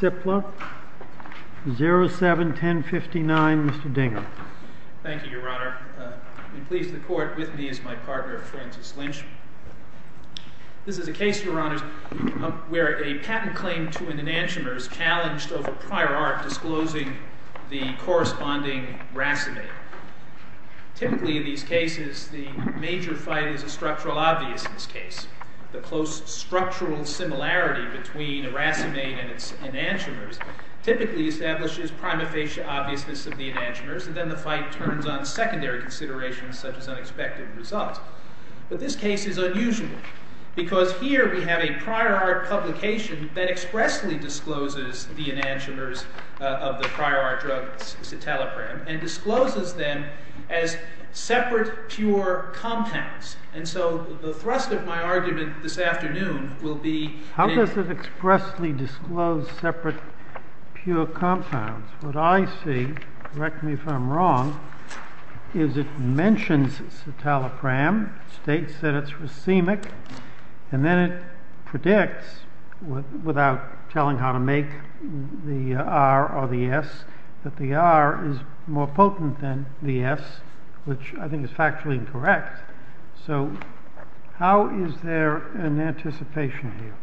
07-1059, Mr. Dinger Thank you, Your Honor. I am pleased to report with me is my partner, Francis Lynch. This is a case, Your Honors, where a patent claim to an enantiomer is challenged over prior art disclosing the corresponding racemate. Typically, in these cases, the major fight is a structural obviousness case. The close structural similarity between a racemate and its enantiomers typically establishes prima facie obviousness of the enantiomers, and then the fight turns on secondary considerations such as unexpected results. But this case is unusual because here we have a prior art publication that expressly discloses the enantiomers of the prior art drug citalopram and discloses them as separate pure compounds. And so the thrust of my argument this afternoon will be… How does it expressly disclose separate pure compounds? What I see, correct me if I'm wrong, is it mentions citalopram, states that it's racemic, and then it predicts, without telling how to make the R or the S, that the R is more potent than the S, which I think is factually incorrect. So how is there an anticipation here?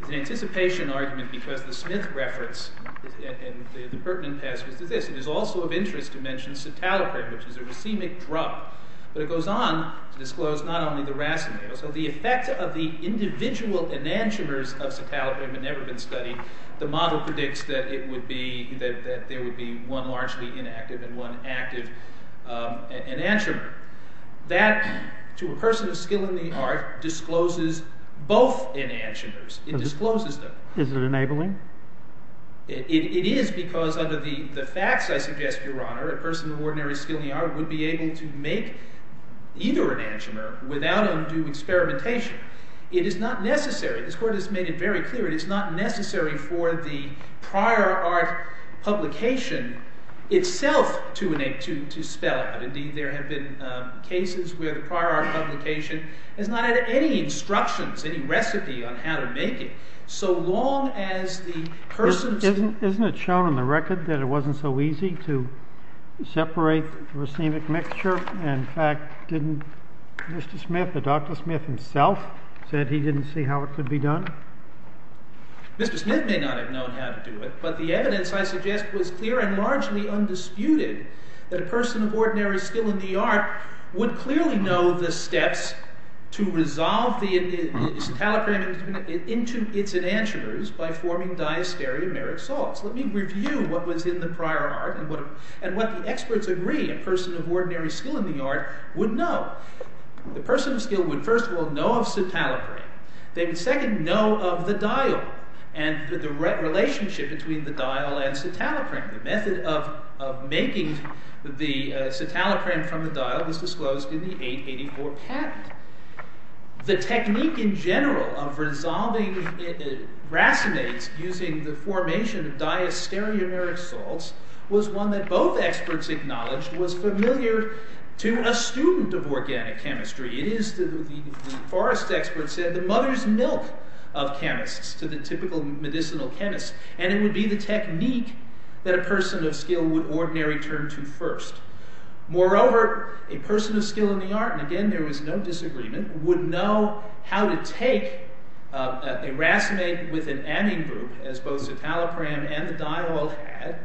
There's an anticipation argument because the Smith reference and the pertinent passage is this. It is also of interest to mention citalopram, which is a racemic drug. But it goes on to disclose not only the racemate. So the effect of the individual enantiomers of citalopram had never been studied. The model predicts that there would be one largely inactive and one active enantiomer. That, to a person of skill in the art, discloses both enantiomers. It discloses them. Is it enabling? It is because under the facts, I suggest, Your Honor, a person of ordinary skill in the art would be able to make either enantiomer without undue experimentation. It is not necessary. This Court has made it very clear. It is not necessary for the prior art publication itself to spell it out. Indeed, there have been cases where the prior art publication has not had any instructions, any recipe on how to make it. So long as the person— Isn't it shown on the record that it wasn't so easy to separate the racemic mixture? In fact, didn't Mr. Smith, or Dr. Smith himself, said he didn't see how it could be done? Mr. Smith may not have known how to do it, but the evidence, I suggest, was clear and largely undisputed that a person of ordinary skill in the art would clearly know the steps to resolve the citalopram into its enantiomers by forming diastereomeric salts. Let me review what was in the prior art and what the experts agree a person of ordinary skill in the art would know. The person of skill would, first of all, know of citalopram. They would, second, know of the diol and the relationship between the diol and citalopram, the method of making the citalopram from the diol was disclosed in the 884 patent. The technique in general of resolving racemates using the formation of diastereomeric salts was one that both experts acknowledged was familiar to a student of organic chemistry. It is, the forest expert said, the mother's milk of chemists, to the typical medicinal chemist, and it would be the technique that a person of skill would ordinary turn to first. Moreover, a person of skill in the art, and again there is no disagreement, would know how to take a racemate with an amine group, as both the citalopram and the diol had,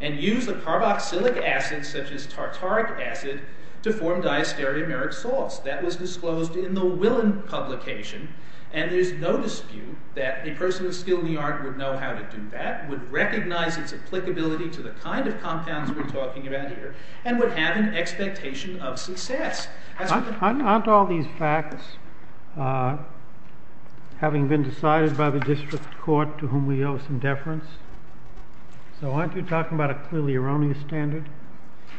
and use a carboxylic acid such as tartaric acid to form diastereomeric salts. That was disclosed in the Willen publication, and there is no dispute that a person of skill in the art would know how to do that, would recognize its applicability to the kind of compounds we're talking about here, and would have an expectation of success. Aren't all these facts, having been decided by the district court to whom we owe some deference? So aren't you talking about a clearly erroneous standard?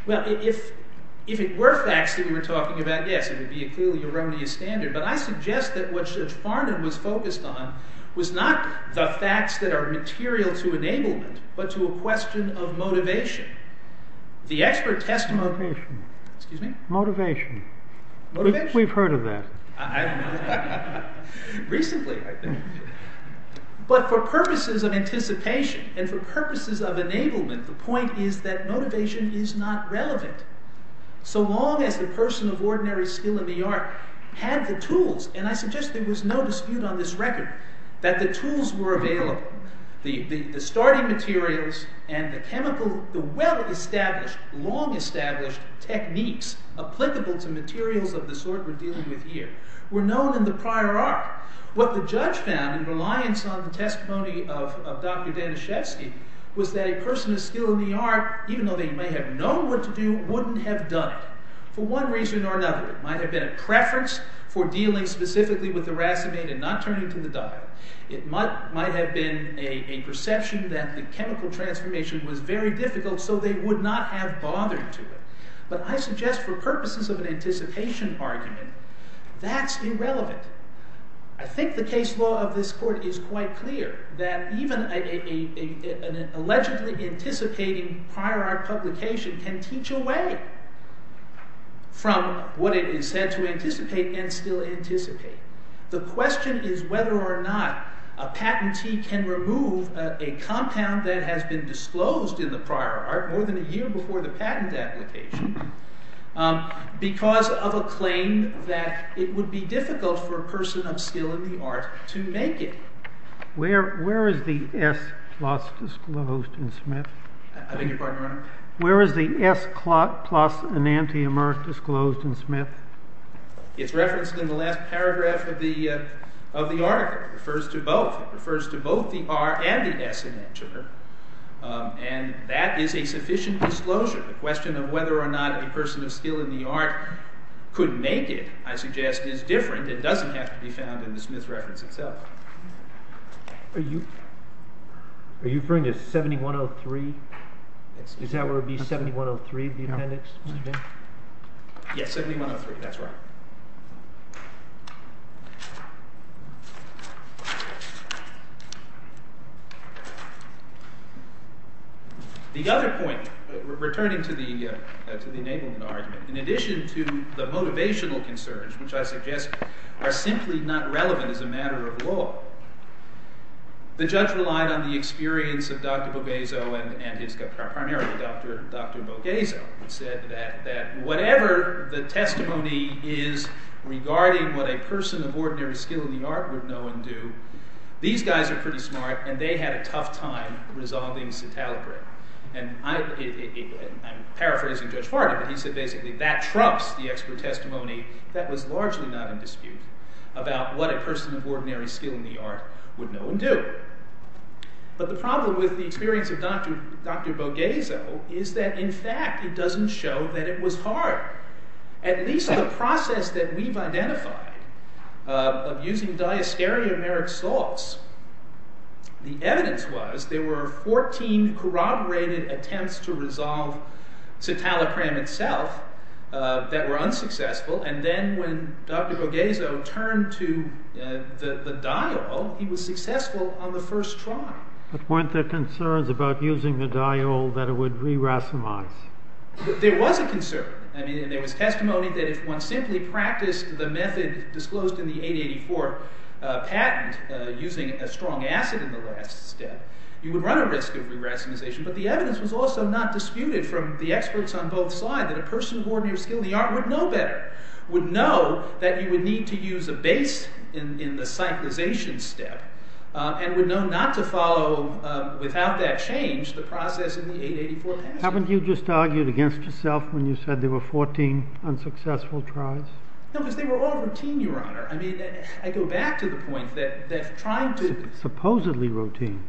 Well, if it were facts that we were talking about, yes, it would be a clearly erroneous standard. But I suggest that what Judge Farnon was focused on was not the facts that are material to enablement, but to a question of motivation. The expert testimony— Motivation. Excuse me? Motivation. Motivation? We've heard of that. Recently, I think. But for purposes of anticipation, and for purposes of enablement, the point is that motivation is not relevant. So long as the person of ordinary skill in the art had the tools, and I suggest there was no dispute on this record, that the tools were available. The starting materials and the well-established, long-established techniques applicable to materials of the sort we're dealing with here were known in the prior art. What the judge found, in reliance on the testimony of Dr. Daniszewski, was that a person of skill in the art, even though they may have known what to do, wouldn't have done it. For one reason or another, it might have been a preference for dealing specifically with the racemate and not turning to the diet. It might have been a perception that the chemical transformation was very difficult, so they would not have bothered to do it. But I suggest for purposes of an anticipation argument, that's irrelevant. I think the case law of this court is quite clear, that even an allegedly anticipating prior art publication can teach away from what it is said to anticipate and still anticipate. The question is whether or not a patentee can remove a compound that has been disclosed in the prior art more than a year before the patent application, because of a claim that it would be difficult for a person of skill in the art to make it. Where is the S plus disclosed in Smith? I beg your pardon, Your Honor? Where is the S plus enantiomer disclosed in Smith? It's referenced in the last paragraph of the article. It refers to both. It refers to both the R and the S enantiomer, and that is a sufficient disclosure. The question of whether or not a person of skill in the art could make it, I suggest, is different. It doesn't have to be found in the Smith reference itself. Are you referring to 7103? Is that where it would be, 7103, the appendix? Yes, 7103. That's right. The other point, returning to the enablement argument, in addition to the motivational concerns, which I suggest are simply not relevant as a matter of law. The judge relied on the experience of Dr. Bogazzo, and primarily Dr. Bogazzo, who said that whatever the testimony is regarding what a person of ordinary skill in the art would know and do, these guys are pretty smart, and they had a tough time resolving Satalibre. I'm paraphrasing Judge Fardy, but he said basically that trumps the expert testimony that was largely not in dispute about what a person of ordinary skill in the art would know and do. But the problem with the experience of Dr. Bogazzo is that, in fact, it doesn't show that it was hard. At least the process that we've identified of using diastereomeric salts, the evidence was there were 14 corroborated attempts to resolve Satalibre itself that were unsuccessful, and then when Dr. Bogazzo turned to the diol, he was successful on the first try. But weren't there concerns about using the diol that it would re-racemize? There was a concern. I mean there was testimony that if one simply practiced the method disclosed in the 884 patent using a strong acid in the last step, you would run a risk of re-racemization. But the evidence was also not disputed from the experts on both sides that a person of ordinary skill in the art would know better, would know that you would need to use a base in the cyclization step, and would know not to follow without that change the process in the 884 patent. Haven't you just argued against yourself when you said there were 14 unsuccessful tries? No, because they were all routine, your honor. I mean, I go back to the point that trying to... Supposedly routine.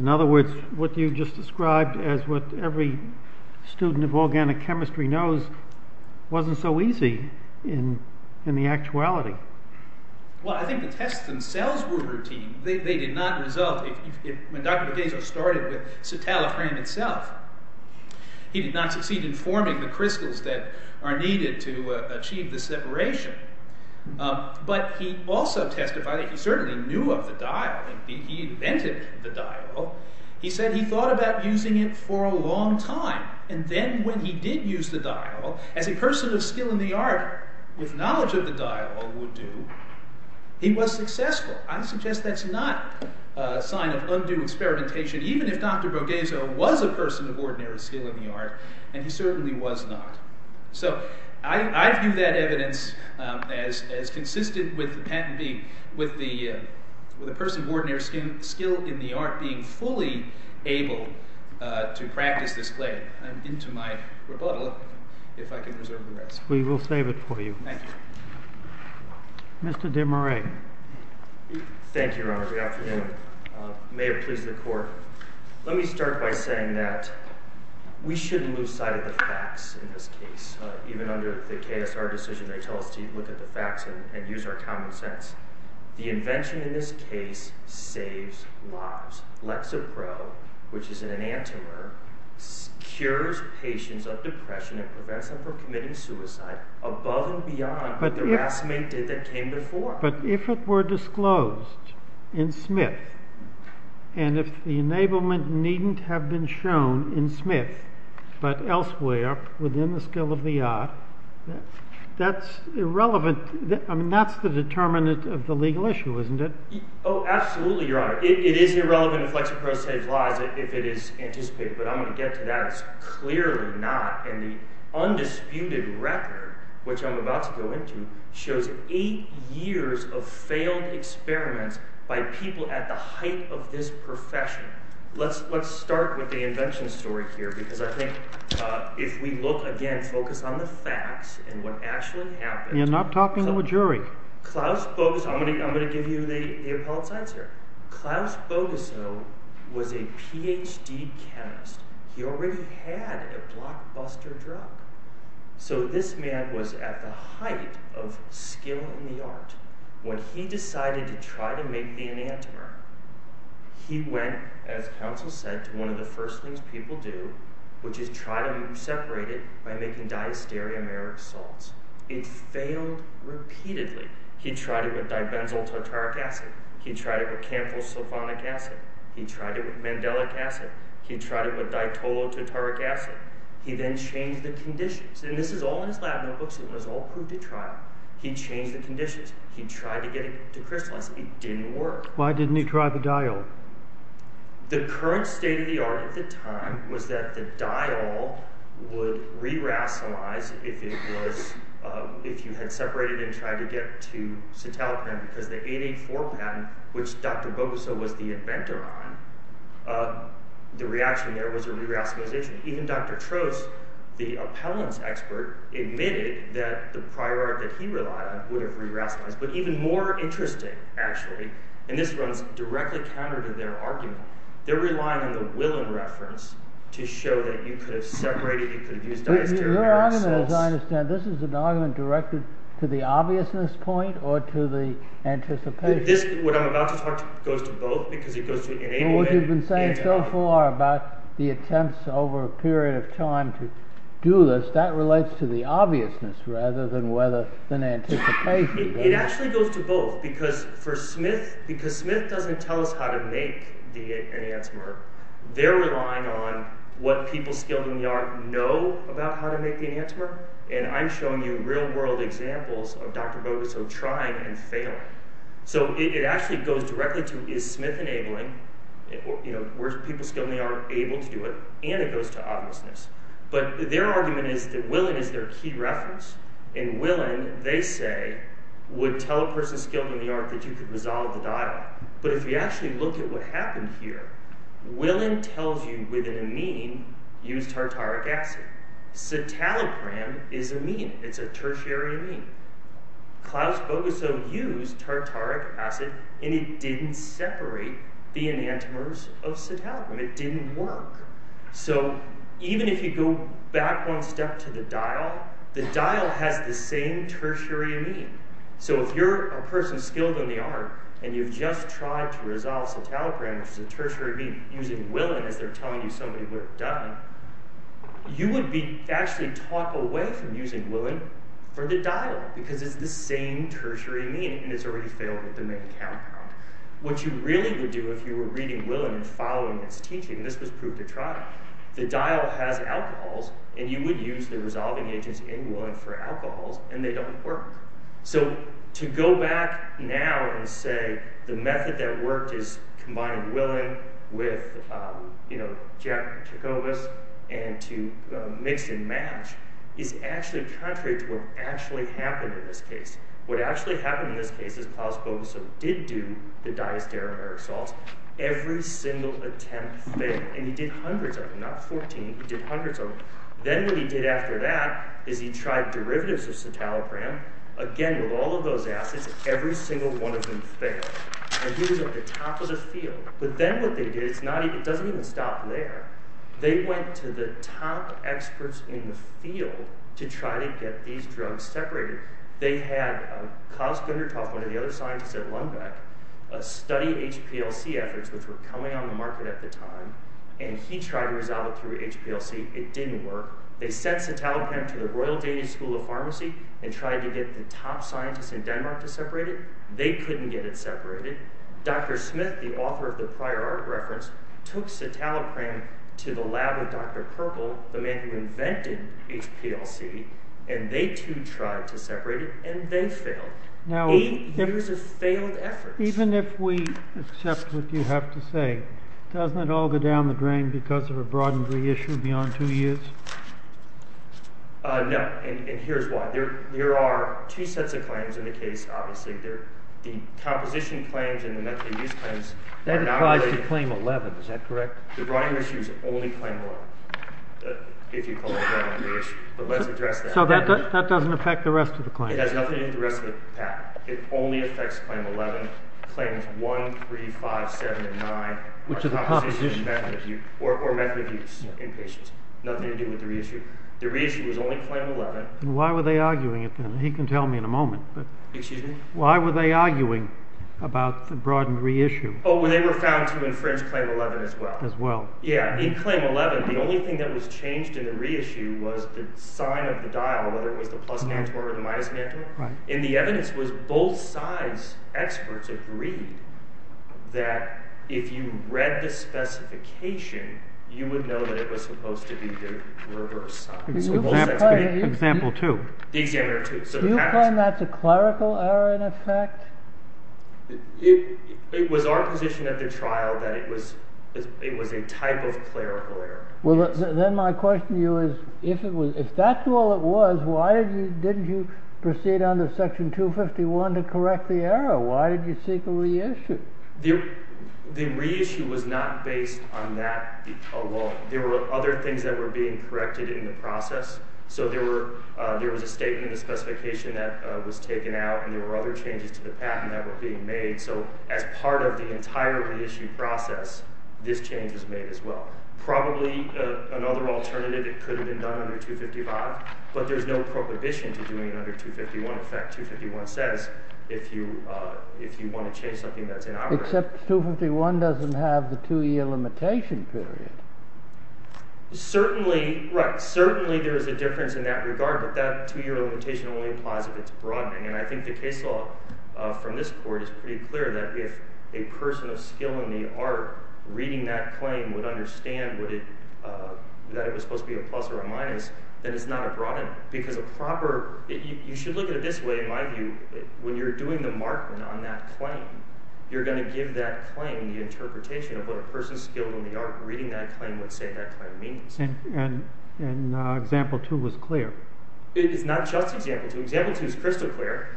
In other words, what you just described as what every student of organic chemistry knows wasn't so easy in the actuality. Well, I think the tests themselves were routine. They did not result, when Dr. Borghese started with citalofram itself, he did not succeed in forming the crystals that are needed to achieve the separation. But he also testified that he certainly knew of the diol, he invented the diol. He said he thought about using it for a long time, and then when he did use the diol, as a person of skill in the art with knowledge of the diol would do, he was successful. I suggest that's not a sign of undue experimentation, even if Dr. Borghese was a person of ordinary skill in the art, and he certainly was not. So, I view that evidence as consistent with the person of ordinary skill in the art being fully able to practice this play. I'm into my rebuttal, if I can reserve the rest. We will save it for you. Thank you. Mr. DeMarais. Thank you, your honor. Good afternoon. May it please the court. Let me start by saying that we shouldn't lose sight of the facts in this case. Even under the KSR decision, they tell us to look at the facts and use our common sense. The invention in this case saves lives. Lexapro, which is an enantiomer, cures patients of depression and prevents them from committing suicide, above and beyond what the racemate did that came before. But if it were disclosed in Smith, and if the enablement needn't have been shown in Smith, but elsewhere within the skill of the art, that's irrelevant. I mean, that's the determinant of the legal issue, isn't it? Oh, absolutely, your honor. It is irrelevant if Lexapro saves lives if it is anticipated, but I'm going to get to that. That's clearly not, and the undisputed record, which I'm about to go into, shows eight years of failed experiments by people at the height of this profession. Let's start with the invention story here, because I think if we look again, focus on the facts and what actually happened. You're not talking to a jury. I'm going to give you the appellate science here. Klaus Bogusow was a Ph.D. chemist. He already had a blockbuster drug, so this man was at the height of skill in the art. When he decided to try to make the enantiomer, he went, as counsel said, to one of the first things people do, which is try to separate it by making diastereomeric salts. It failed repeatedly. He tried it with dibenzyl tartaric acid. He tried it with camphor sulfonic acid. He tried it with mandelic acid. He tried it with ditol tartaric acid. He then changed the conditions, and this is all in his lab notebooks. It was all proof to trial. He changed the conditions. He tried to get it to crystallize. It didn't work. Why didn't he try the diol? The current state of the art at the time was that the diol would re-racemalize if you had separated and tried to get to citalopram because the 884 patent, which Dr. Bogusow was the inventor on, the reaction there was a re-racemalization. Even Dr. Trost, the appellant's expert, admitted that the prior art that he relied on would have re-racemalized. But even more interesting, actually, and this runs directly counter to their argument, they're relying on the Willen reference to show that you could have separated. You could have used diastereomeric salts. Your argument, as I understand, this is an argument directed to the obviousness point or to the anticipation? This, what I'm about to talk to, goes to both because it goes to inanimate and to obvious. Well, what you've been saying so far about the attempts over a period of time to do this, that relates to the obviousness rather than anticipation. It actually goes to both because Smith doesn't tell us how to make the enantiomer. They're relying on what people skilled in the art know about how to make the enantiomer, and I'm showing you real-world examples of Dr. Bogusow trying and failing. So it actually goes directly to is Smith enabling, where people skilled in the art are able to do it, and it goes to obviousness. But their argument is that Willen is their key reference, and Willen, they say, would tell a person skilled in the art that you could dissolve the diol. But if you actually look at what happened here, Willen tells you with an amine, use tartaric acid. Citalopram is amine. It's a tertiary amine. Klaus Bogusow used tartaric acid, and it didn't separate the enantiomers of citalopram. It didn't work. So even if you go back one step to the diol, the diol has the same tertiary amine. So if you're a person skilled in the art, and you've just tried to dissolve citalopram, which is a tertiary amine, using Willen as they're telling you somebody would have done, you would be actually taught away from using Willen for the diol, because it's the same tertiary amine, and it's already failed at the main compound. What you really would do if you were reading Willen and following its teaching, and this was proved to try, the diol has alcohols, and you would use the resolving agents in Willen for alcohols, and they don't work. So to go back now and say the method that worked is combining Willen with Jacobus, and to mix and match, is actually contrary to what actually happened in this case. What actually happened in this case is Klaus Bogusow did do the diastereomeric salts. Every single attempt failed, and he did hundreds of them, not 14, he did hundreds of them. Then what he did after that is he tried derivatives of citalopram. Again, with all of those acids, every single one of them failed. And he was at the top of the field. But then what they did, it doesn't even stop there. They went to the top experts in the field to try to get these drugs separated. They had Klaus Gunderthoff, one of the other scientists at Lundbeck, study HPLC efforts, which were coming on the market at the time, and he tried to resolve it through HPLC. It didn't work. They sent citalopram to the Royal Danish School of Pharmacy, and tried to get the top scientists in Denmark to separate it. They couldn't get it separated. Dr. Smith, the author of the prior art reference, took citalopram to the lab of Dr. Purple, the man who invented HPLC, and they, too, tried to separate it, and they failed. Eight years of failed efforts. Even if we accept what you have to say, doesn't it all go down the drain because of a broadened reissue beyond two years? No, and here's why. There are two sets of claims in the case, obviously. The composition claims and the methadone use claims are not related. That applies to claim 11. Is that correct? The broadened reissue is only claim 11, if you call it a broadened reissue. But let's address that. So that doesn't affect the rest of the claim. It has nothing to do with the rest of the pack. It only affects claim 11, claims 1, 3, 5, 7, and 9, which are composition and methadone use in patients. Nothing to do with the reissue. The reissue was only claim 11. Why were they arguing it then? He can tell me in a moment. Excuse me? Why were they arguing about the broadened reissue? Oh, they were found to infringe claim 11 as well. Yeah, in claim 11, the only thing that was changed in the reissue was the sign of the dial, whether it was the plus mantor or the minus mantor. And the evidence was both sides' experts agreed that if you read the specification, you would know that it was supposed to be the reverse sign. Example 2. Do you claim that's a clerical error in effect? It was our position at the trial that it was a type of clerical error. Well, then my question to you is, if that's all it was, why didn't you proceed under section 251 to correct the error? Why did you seek a reissue? The reissue was not based on that alone. There were other things that were being corrected in the process. So there was a statement in the specification that was taken out, and there were other changes to the patent that were being made. So as part of the entire reissue process, this change was made as well. Probably another alternative, it could have been done under 255, but there's no prohibition to doing it under 251. In fact, 251 says if you want to change something that's inoperative. Except 251 doesn't have the two-year limitation period. Certainly, right. Certainly there is a difference in that regard, but that two-year limitation only implies that it's broadening. And I think the case law from this court is pretty clear that if a person of skill in the art reading that claim would understand that it was supposed to be a plus or a minus, then it's not a broadening. Because a proper—you should look at it this way, in my view. When you're doing the markment on that claim, you're going to give that claim the interpretation of what a person skilled in the art reading that claim would say that claim means. And example two was clear. It's not just example two. Example two is crystal clear.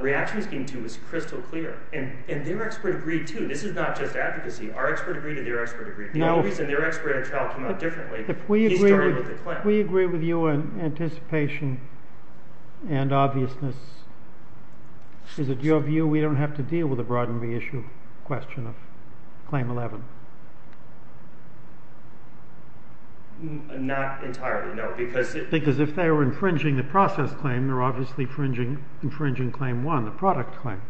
Reaction scheme two is crystal clear. And their expert agreed, too. This is not just advocacy. Our expert agreed and their expert agreed. The only reason their expert in trial came out differently, he started with the claim. We agree with you on anticipation and obviousness. Is it your view we don't have to deal with the broadening issue question of claim 11? Not entirely, no. Because if they were infringing the process claim, they're obviously infringing claim 1, the product claim.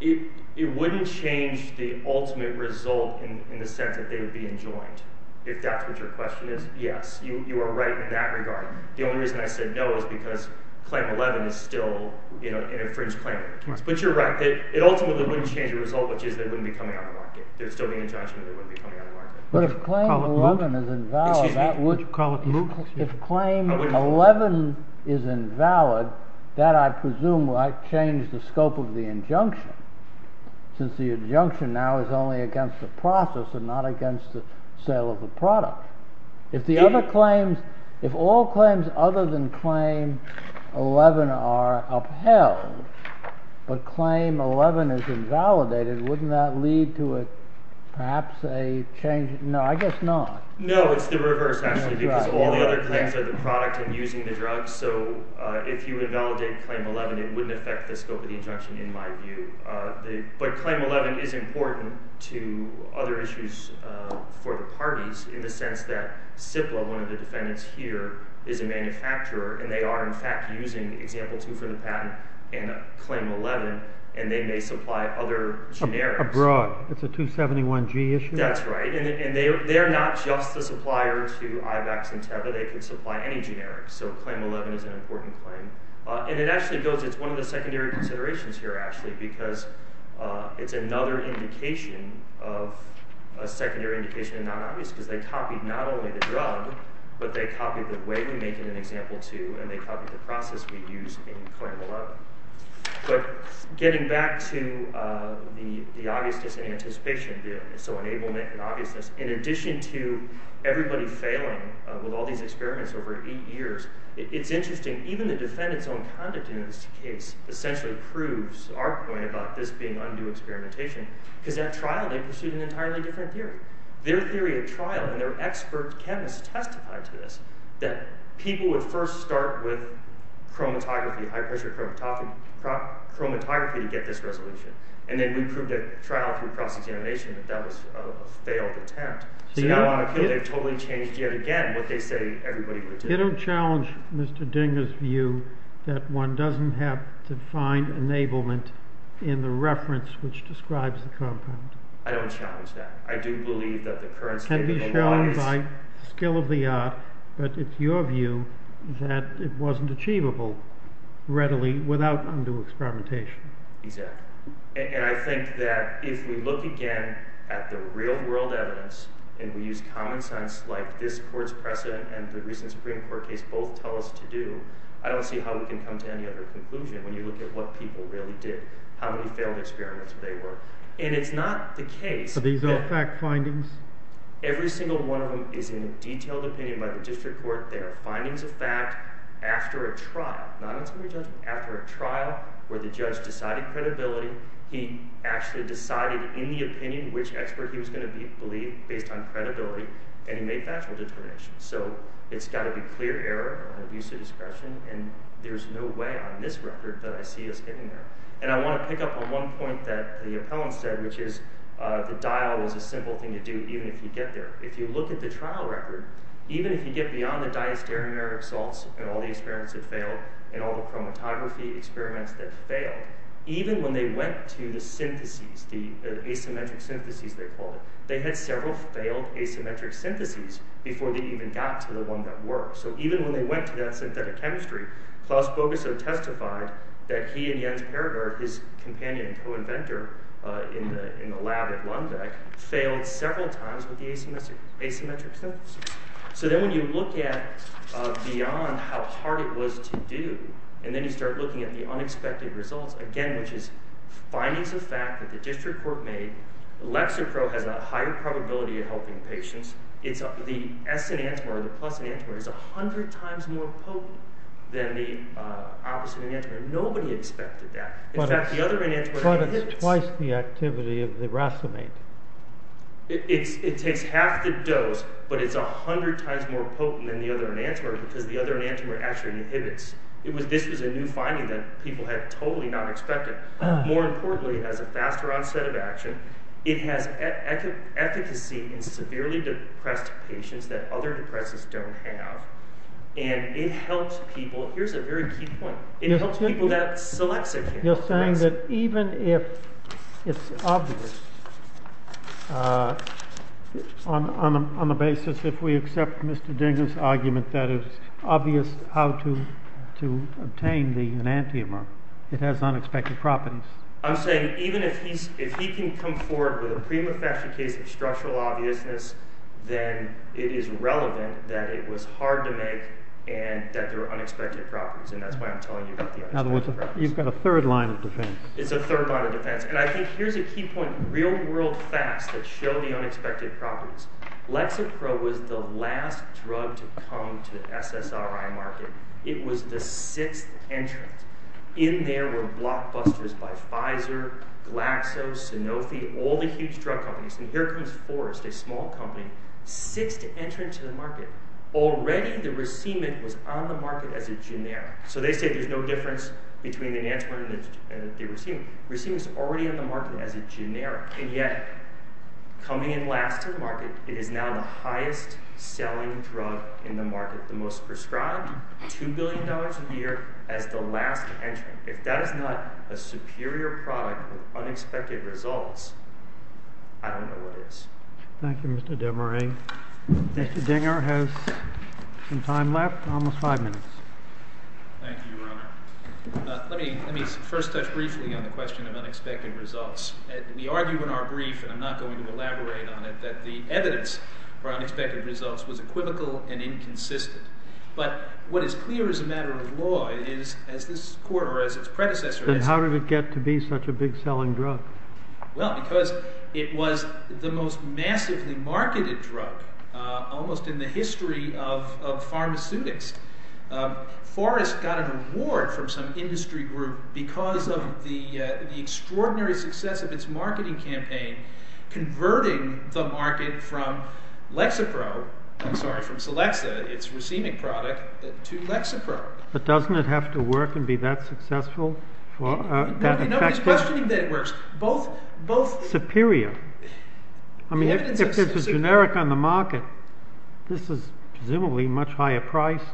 It wouldn't change the ultimate result in the sense that they would be enjoined. If that's what your question is, yes. You are right in that regard. The only reason I said no is because claim 11 is still an infringed claim. But you're right. It ultimately wouldn't change the result, which is they wouldn't be coming out of market. There would still be an injunction that they wouldn't be coming out of market. Would you call it moot? If claim 11 is invalid, that, I presume, would change the scope of the injunction. Since the injunction now is only against the process and not against the sale of the product. If all claims other than claim 11 are upheld, but claim 11 is invalidated, wouldn't that lead to perhaps a change? No, I guess not. No, it's the reverse, actually. Because all the other claims are the product and using the drug. So if you invalidate claim 11, it wouldn't affect the scope of the injunction, in my view. But claim 11 is important to other issues for the parties, in the sense that CIPLA, one of the defendants here, is a manufacturer. And they are, in fact, using example 2 for the patent and claim 11. And they may supply other generics. Abroad. It's a 271G issue? That's right. And they are not just the supplier to IVACS and TEVA. They can supply any generics. So claim 11 is an important claim. And it actually builds. It's one of the secondary considerations here, actually, because it's another indication of a secondary indication of non-obvious. Because they copied not only the drug, but they copied the way we make it in example 2. And they copied the process we use in claim 11. But getting back to the obviousness and anticipation. So enablement and obviousness. In addition to everybody failing with all these experiments over eight years, it's interesting, even the defendant's own conduct in this case essentially proves our point about this being undue experimentation. Because at trial, they pursued an entirely different theory. Their theory at trial, and their expert chemists testified to this, that people would first start with chromatography, high-pressure chromatography, to get this resolution. And then we proved at trial through cross-examination that that was a failed attempt. So now on appeal, they've totally changed yet again what they say everybody would do. You don't challenge Mr. Dinger's view that one doesn't have to find enablement in the reference which describes the compound? I don't challenge that. I do believe that the current state of the law is— But it's your view that it wasn't achievable readily without undue experimentation. Exactly. And I think that if we look again at the real-world evidence, and we use common sense like this court's precedent and the recent Supreme Court case both tell us to do, I don't see how we can come to any other conclusion when you look at what people really did, how many failed experiments there were. And it's not the case— Are these all fact findings? Every single one of them is in a detailed opinion by the district court. They are findings of fact after a trial, not on summary judgment, after a trial where the judge decided credibility. He actually decided in the opinion which expert he was going to believe based on credibility, and he made factual determinations. So it's got to be clear error or abuse of discretion, and there's no way on this record that I see us getting there. And I want to pick up on one point that the appellant said, which is the dial was a simple thing to do even if you get there. If you look at the trial record, even if you get beyond the diastereomeric salts and all the experiments that failed and all the chromatography experiments that failed, even when they went to the syntheses, the asymmetric syntheses they called it, they had several failed asymmetric syntheses before they even got to the one that worked. So even when they went to that synthetic chemistry, Klaus Bogusow testified that he and Jens Perger, his companion and co-inventor in the lab at Lundbeck, failed several times with the asymmetric syntheses. So then when you look at beyond how hard it was to do, and then you start looking at the unexpected results, again, which is findings of fact that the district court made, Lexapro has a higher probability of helping patients. The S enantiomer, the plus enantiomer, is 100 times more potent than the opposite enantiomer. Nobody expected that. But it's twice the activity of the racemate. It takes half the dose, but it's 100 times more potent than the other enantiomer because the other enantiomer actually inhibits. This was a new finding that people had totally not expected. More importantly, it has a faster onset of action. It has efficacy in severely depressed patients that other depressants don't have. And it helps people. Here's a very key point. It helps people that selects it. You're saying that even if it's obvious on the basis if we accept Mr. Dinger's argument that it's obvious how to obtain the enantiomer, it has unexpected properties. I'm saying even if he can come forward with a prima facie case of structural obviousness, then it is relevant that it was hard to make and that there were unexpected properties. And that's why I'm telling you about the unexpected properties. You've got a third line of defense. It's a third line of defense. And I think here's a key point, real world facts that show the unexpected properties. Lexapro was the last drug to come to SSRI market. It was the sixth entrant. In there were blockbusters by Pfizer, Glaxo, Sanofi, all the huge drug companies. And here comes Forrest, a small company, sixth entrant to the market. Already the racement was on the market as a generic. So they say there's no difference between the enantiomer and the racement. The racement is already on the market as a generic. And yet, coming in last to the market, it is now the highest selling drug in the market. The most prescribed, $2 billion a year as the last entrant. If that is not a superior product of unexpected results, I don't know what is. Thank you, Mr. Desmarais. Mr. Dinger has some time left, almost five minutes. Thank you, Your Honor. Let me first touch briefly on the question of unexpected results. We argue in our brief, and I'm not going to elaborate on it, that the evidence for unexpected results was equivocal and inconsistent. But what is clear as a matter of law is, as this court or as its predecessor has— Then how did it get to be such a big selling drug? Well, because it was the most massively marketed drug almost in the history of pharmaceutics. Forrest got an award from some industry group because of the extraordinary success of its marketing campaign, converting the market from Lexapro—I'm sorry, from Celexa, its racemic product, to Lexapro. But doesn't it have to work and be that successful? Nobody's questioning that it works. Superior. I mean, if it's a generic on the market, this is presumably much higher priced,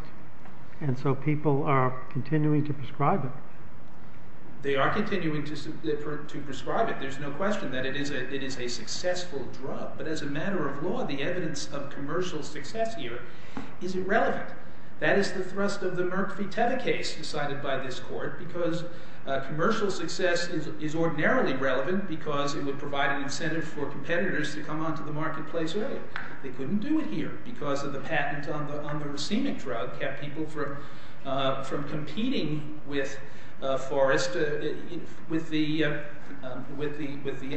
and so people are continuing to prescribe it. They are continuing to prescribe it. There's no question that it is a successful drug. But as a matter of law, the evidence of commercial success here is irrelevant. That is the thrust of the Merck v. Teva case decided by this court, because commercial success is ordinarily relevant because it would provide an incentive for competitors to come onto the marketplace earlier. They couldn't do it here because of the patent on the racemic drug that kept people from competing with Forrest with the enantiomer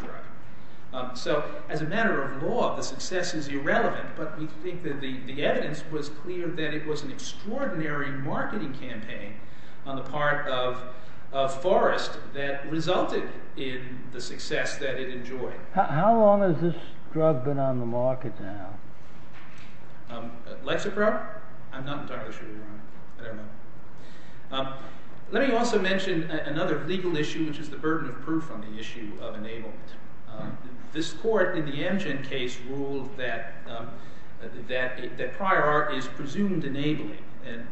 drug. So as a matter of law, the success is irrelevant, but we think that the evidence was clear that it was an extraordinary marketing campaign on the part of Forrest that resulted in the success that it enjoyed. How long has this drug been on the market now? Lexapro? I'm not entirely sure. Let me also mention another legal issue, which is the burden of proof on the issue of enablement. This court in the Amgen case ruled that prior art is presumed enabling.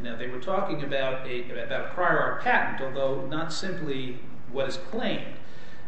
Now, they were talking about a prior art patent, although not simply what is claimed.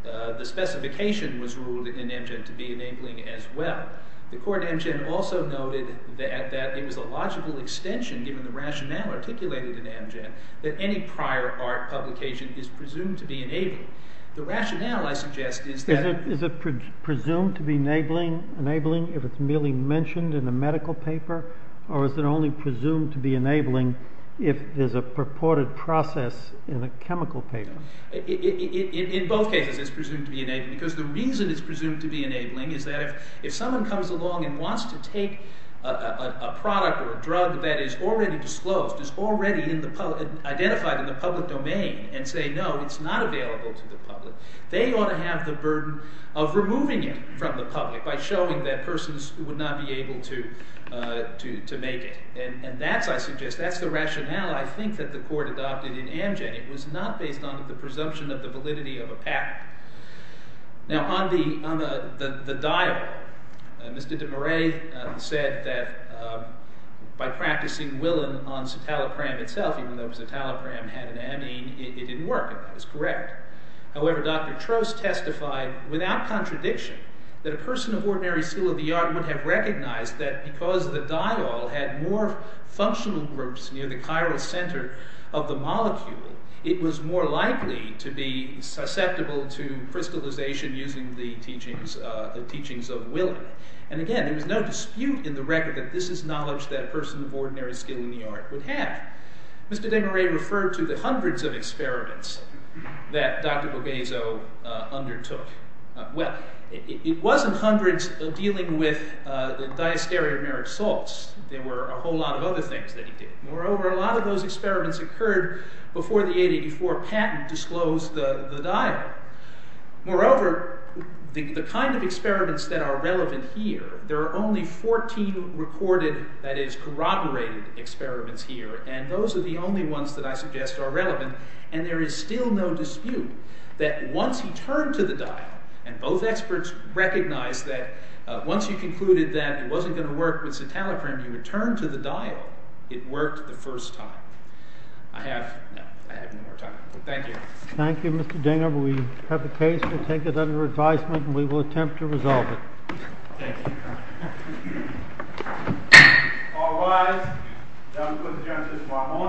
The specification was ruled in Amgen to be enabling as well. The court in Amgen also noted that it was a logical extension, given the rationale articulated in Amgen, that any prior art publication is presumed to be enabling. The rationale, I suggest, is that— Is it presumed to be enabling if it's merely mentioned in a medical paper, or is it only presumed to be enabling if there's a purported process in a chemical paper? In both cases, it's presumed to be enabling because the reason it's presumed to be enabling is that if someone comes along and wants to take a product or a drug that is already disclosed, is already identified in the public domain, and say, no, it's not available to the public, they ought to have the burden of removing it from the public by showing that persons would not be able to make it. And that's, I suggest, that's the rationale, I think, that the court adopted in Amgen. It was not based on the presumption of the validity of a patent. Now, on the diol, Mr. de Marais said that by practicing Willen on citalopram itself, even though citalopram had an amine, it didn't work, and that was correct. However, Dr. Trost testified, without contradiction, that a person of ordinary skill of the art would have recognized that because the diol had more functional groups near the chiral center of the molecule, it was more likely to be susceptible to crystallization using the teachings of Willen. And again, there was no dispute in the record that this is knowledge that a person of ordinary skill in the art would have. Mr. de Marais referred to the hundreds of experiments that Dr. Bobezo undertook. Well, it wasn't hundreds dealing with the diastereomeric salts. There were a whole lot of other things that he did. Moreover, a lot of those experiments occurred before the 884 patent disclosed the diol. Moreover, the kind of experiments that are relevant here, there are only 14 recorded, that is, corroborated experiments here, and those are the only ones that I suggest are relevant, and there is still no dispute that once he turned to the diol, and both experts recognized that once he concluded that it wasn't going to work with citalopramine, he would turn to the diol, it worked the first time. I have no more time. Thank you. Thank you, Mr. Dinger. We have a case. We'll take it under advisement, and we will attempt to resolve it. Thank you. All rise. I would like to call the witnesses to the panel.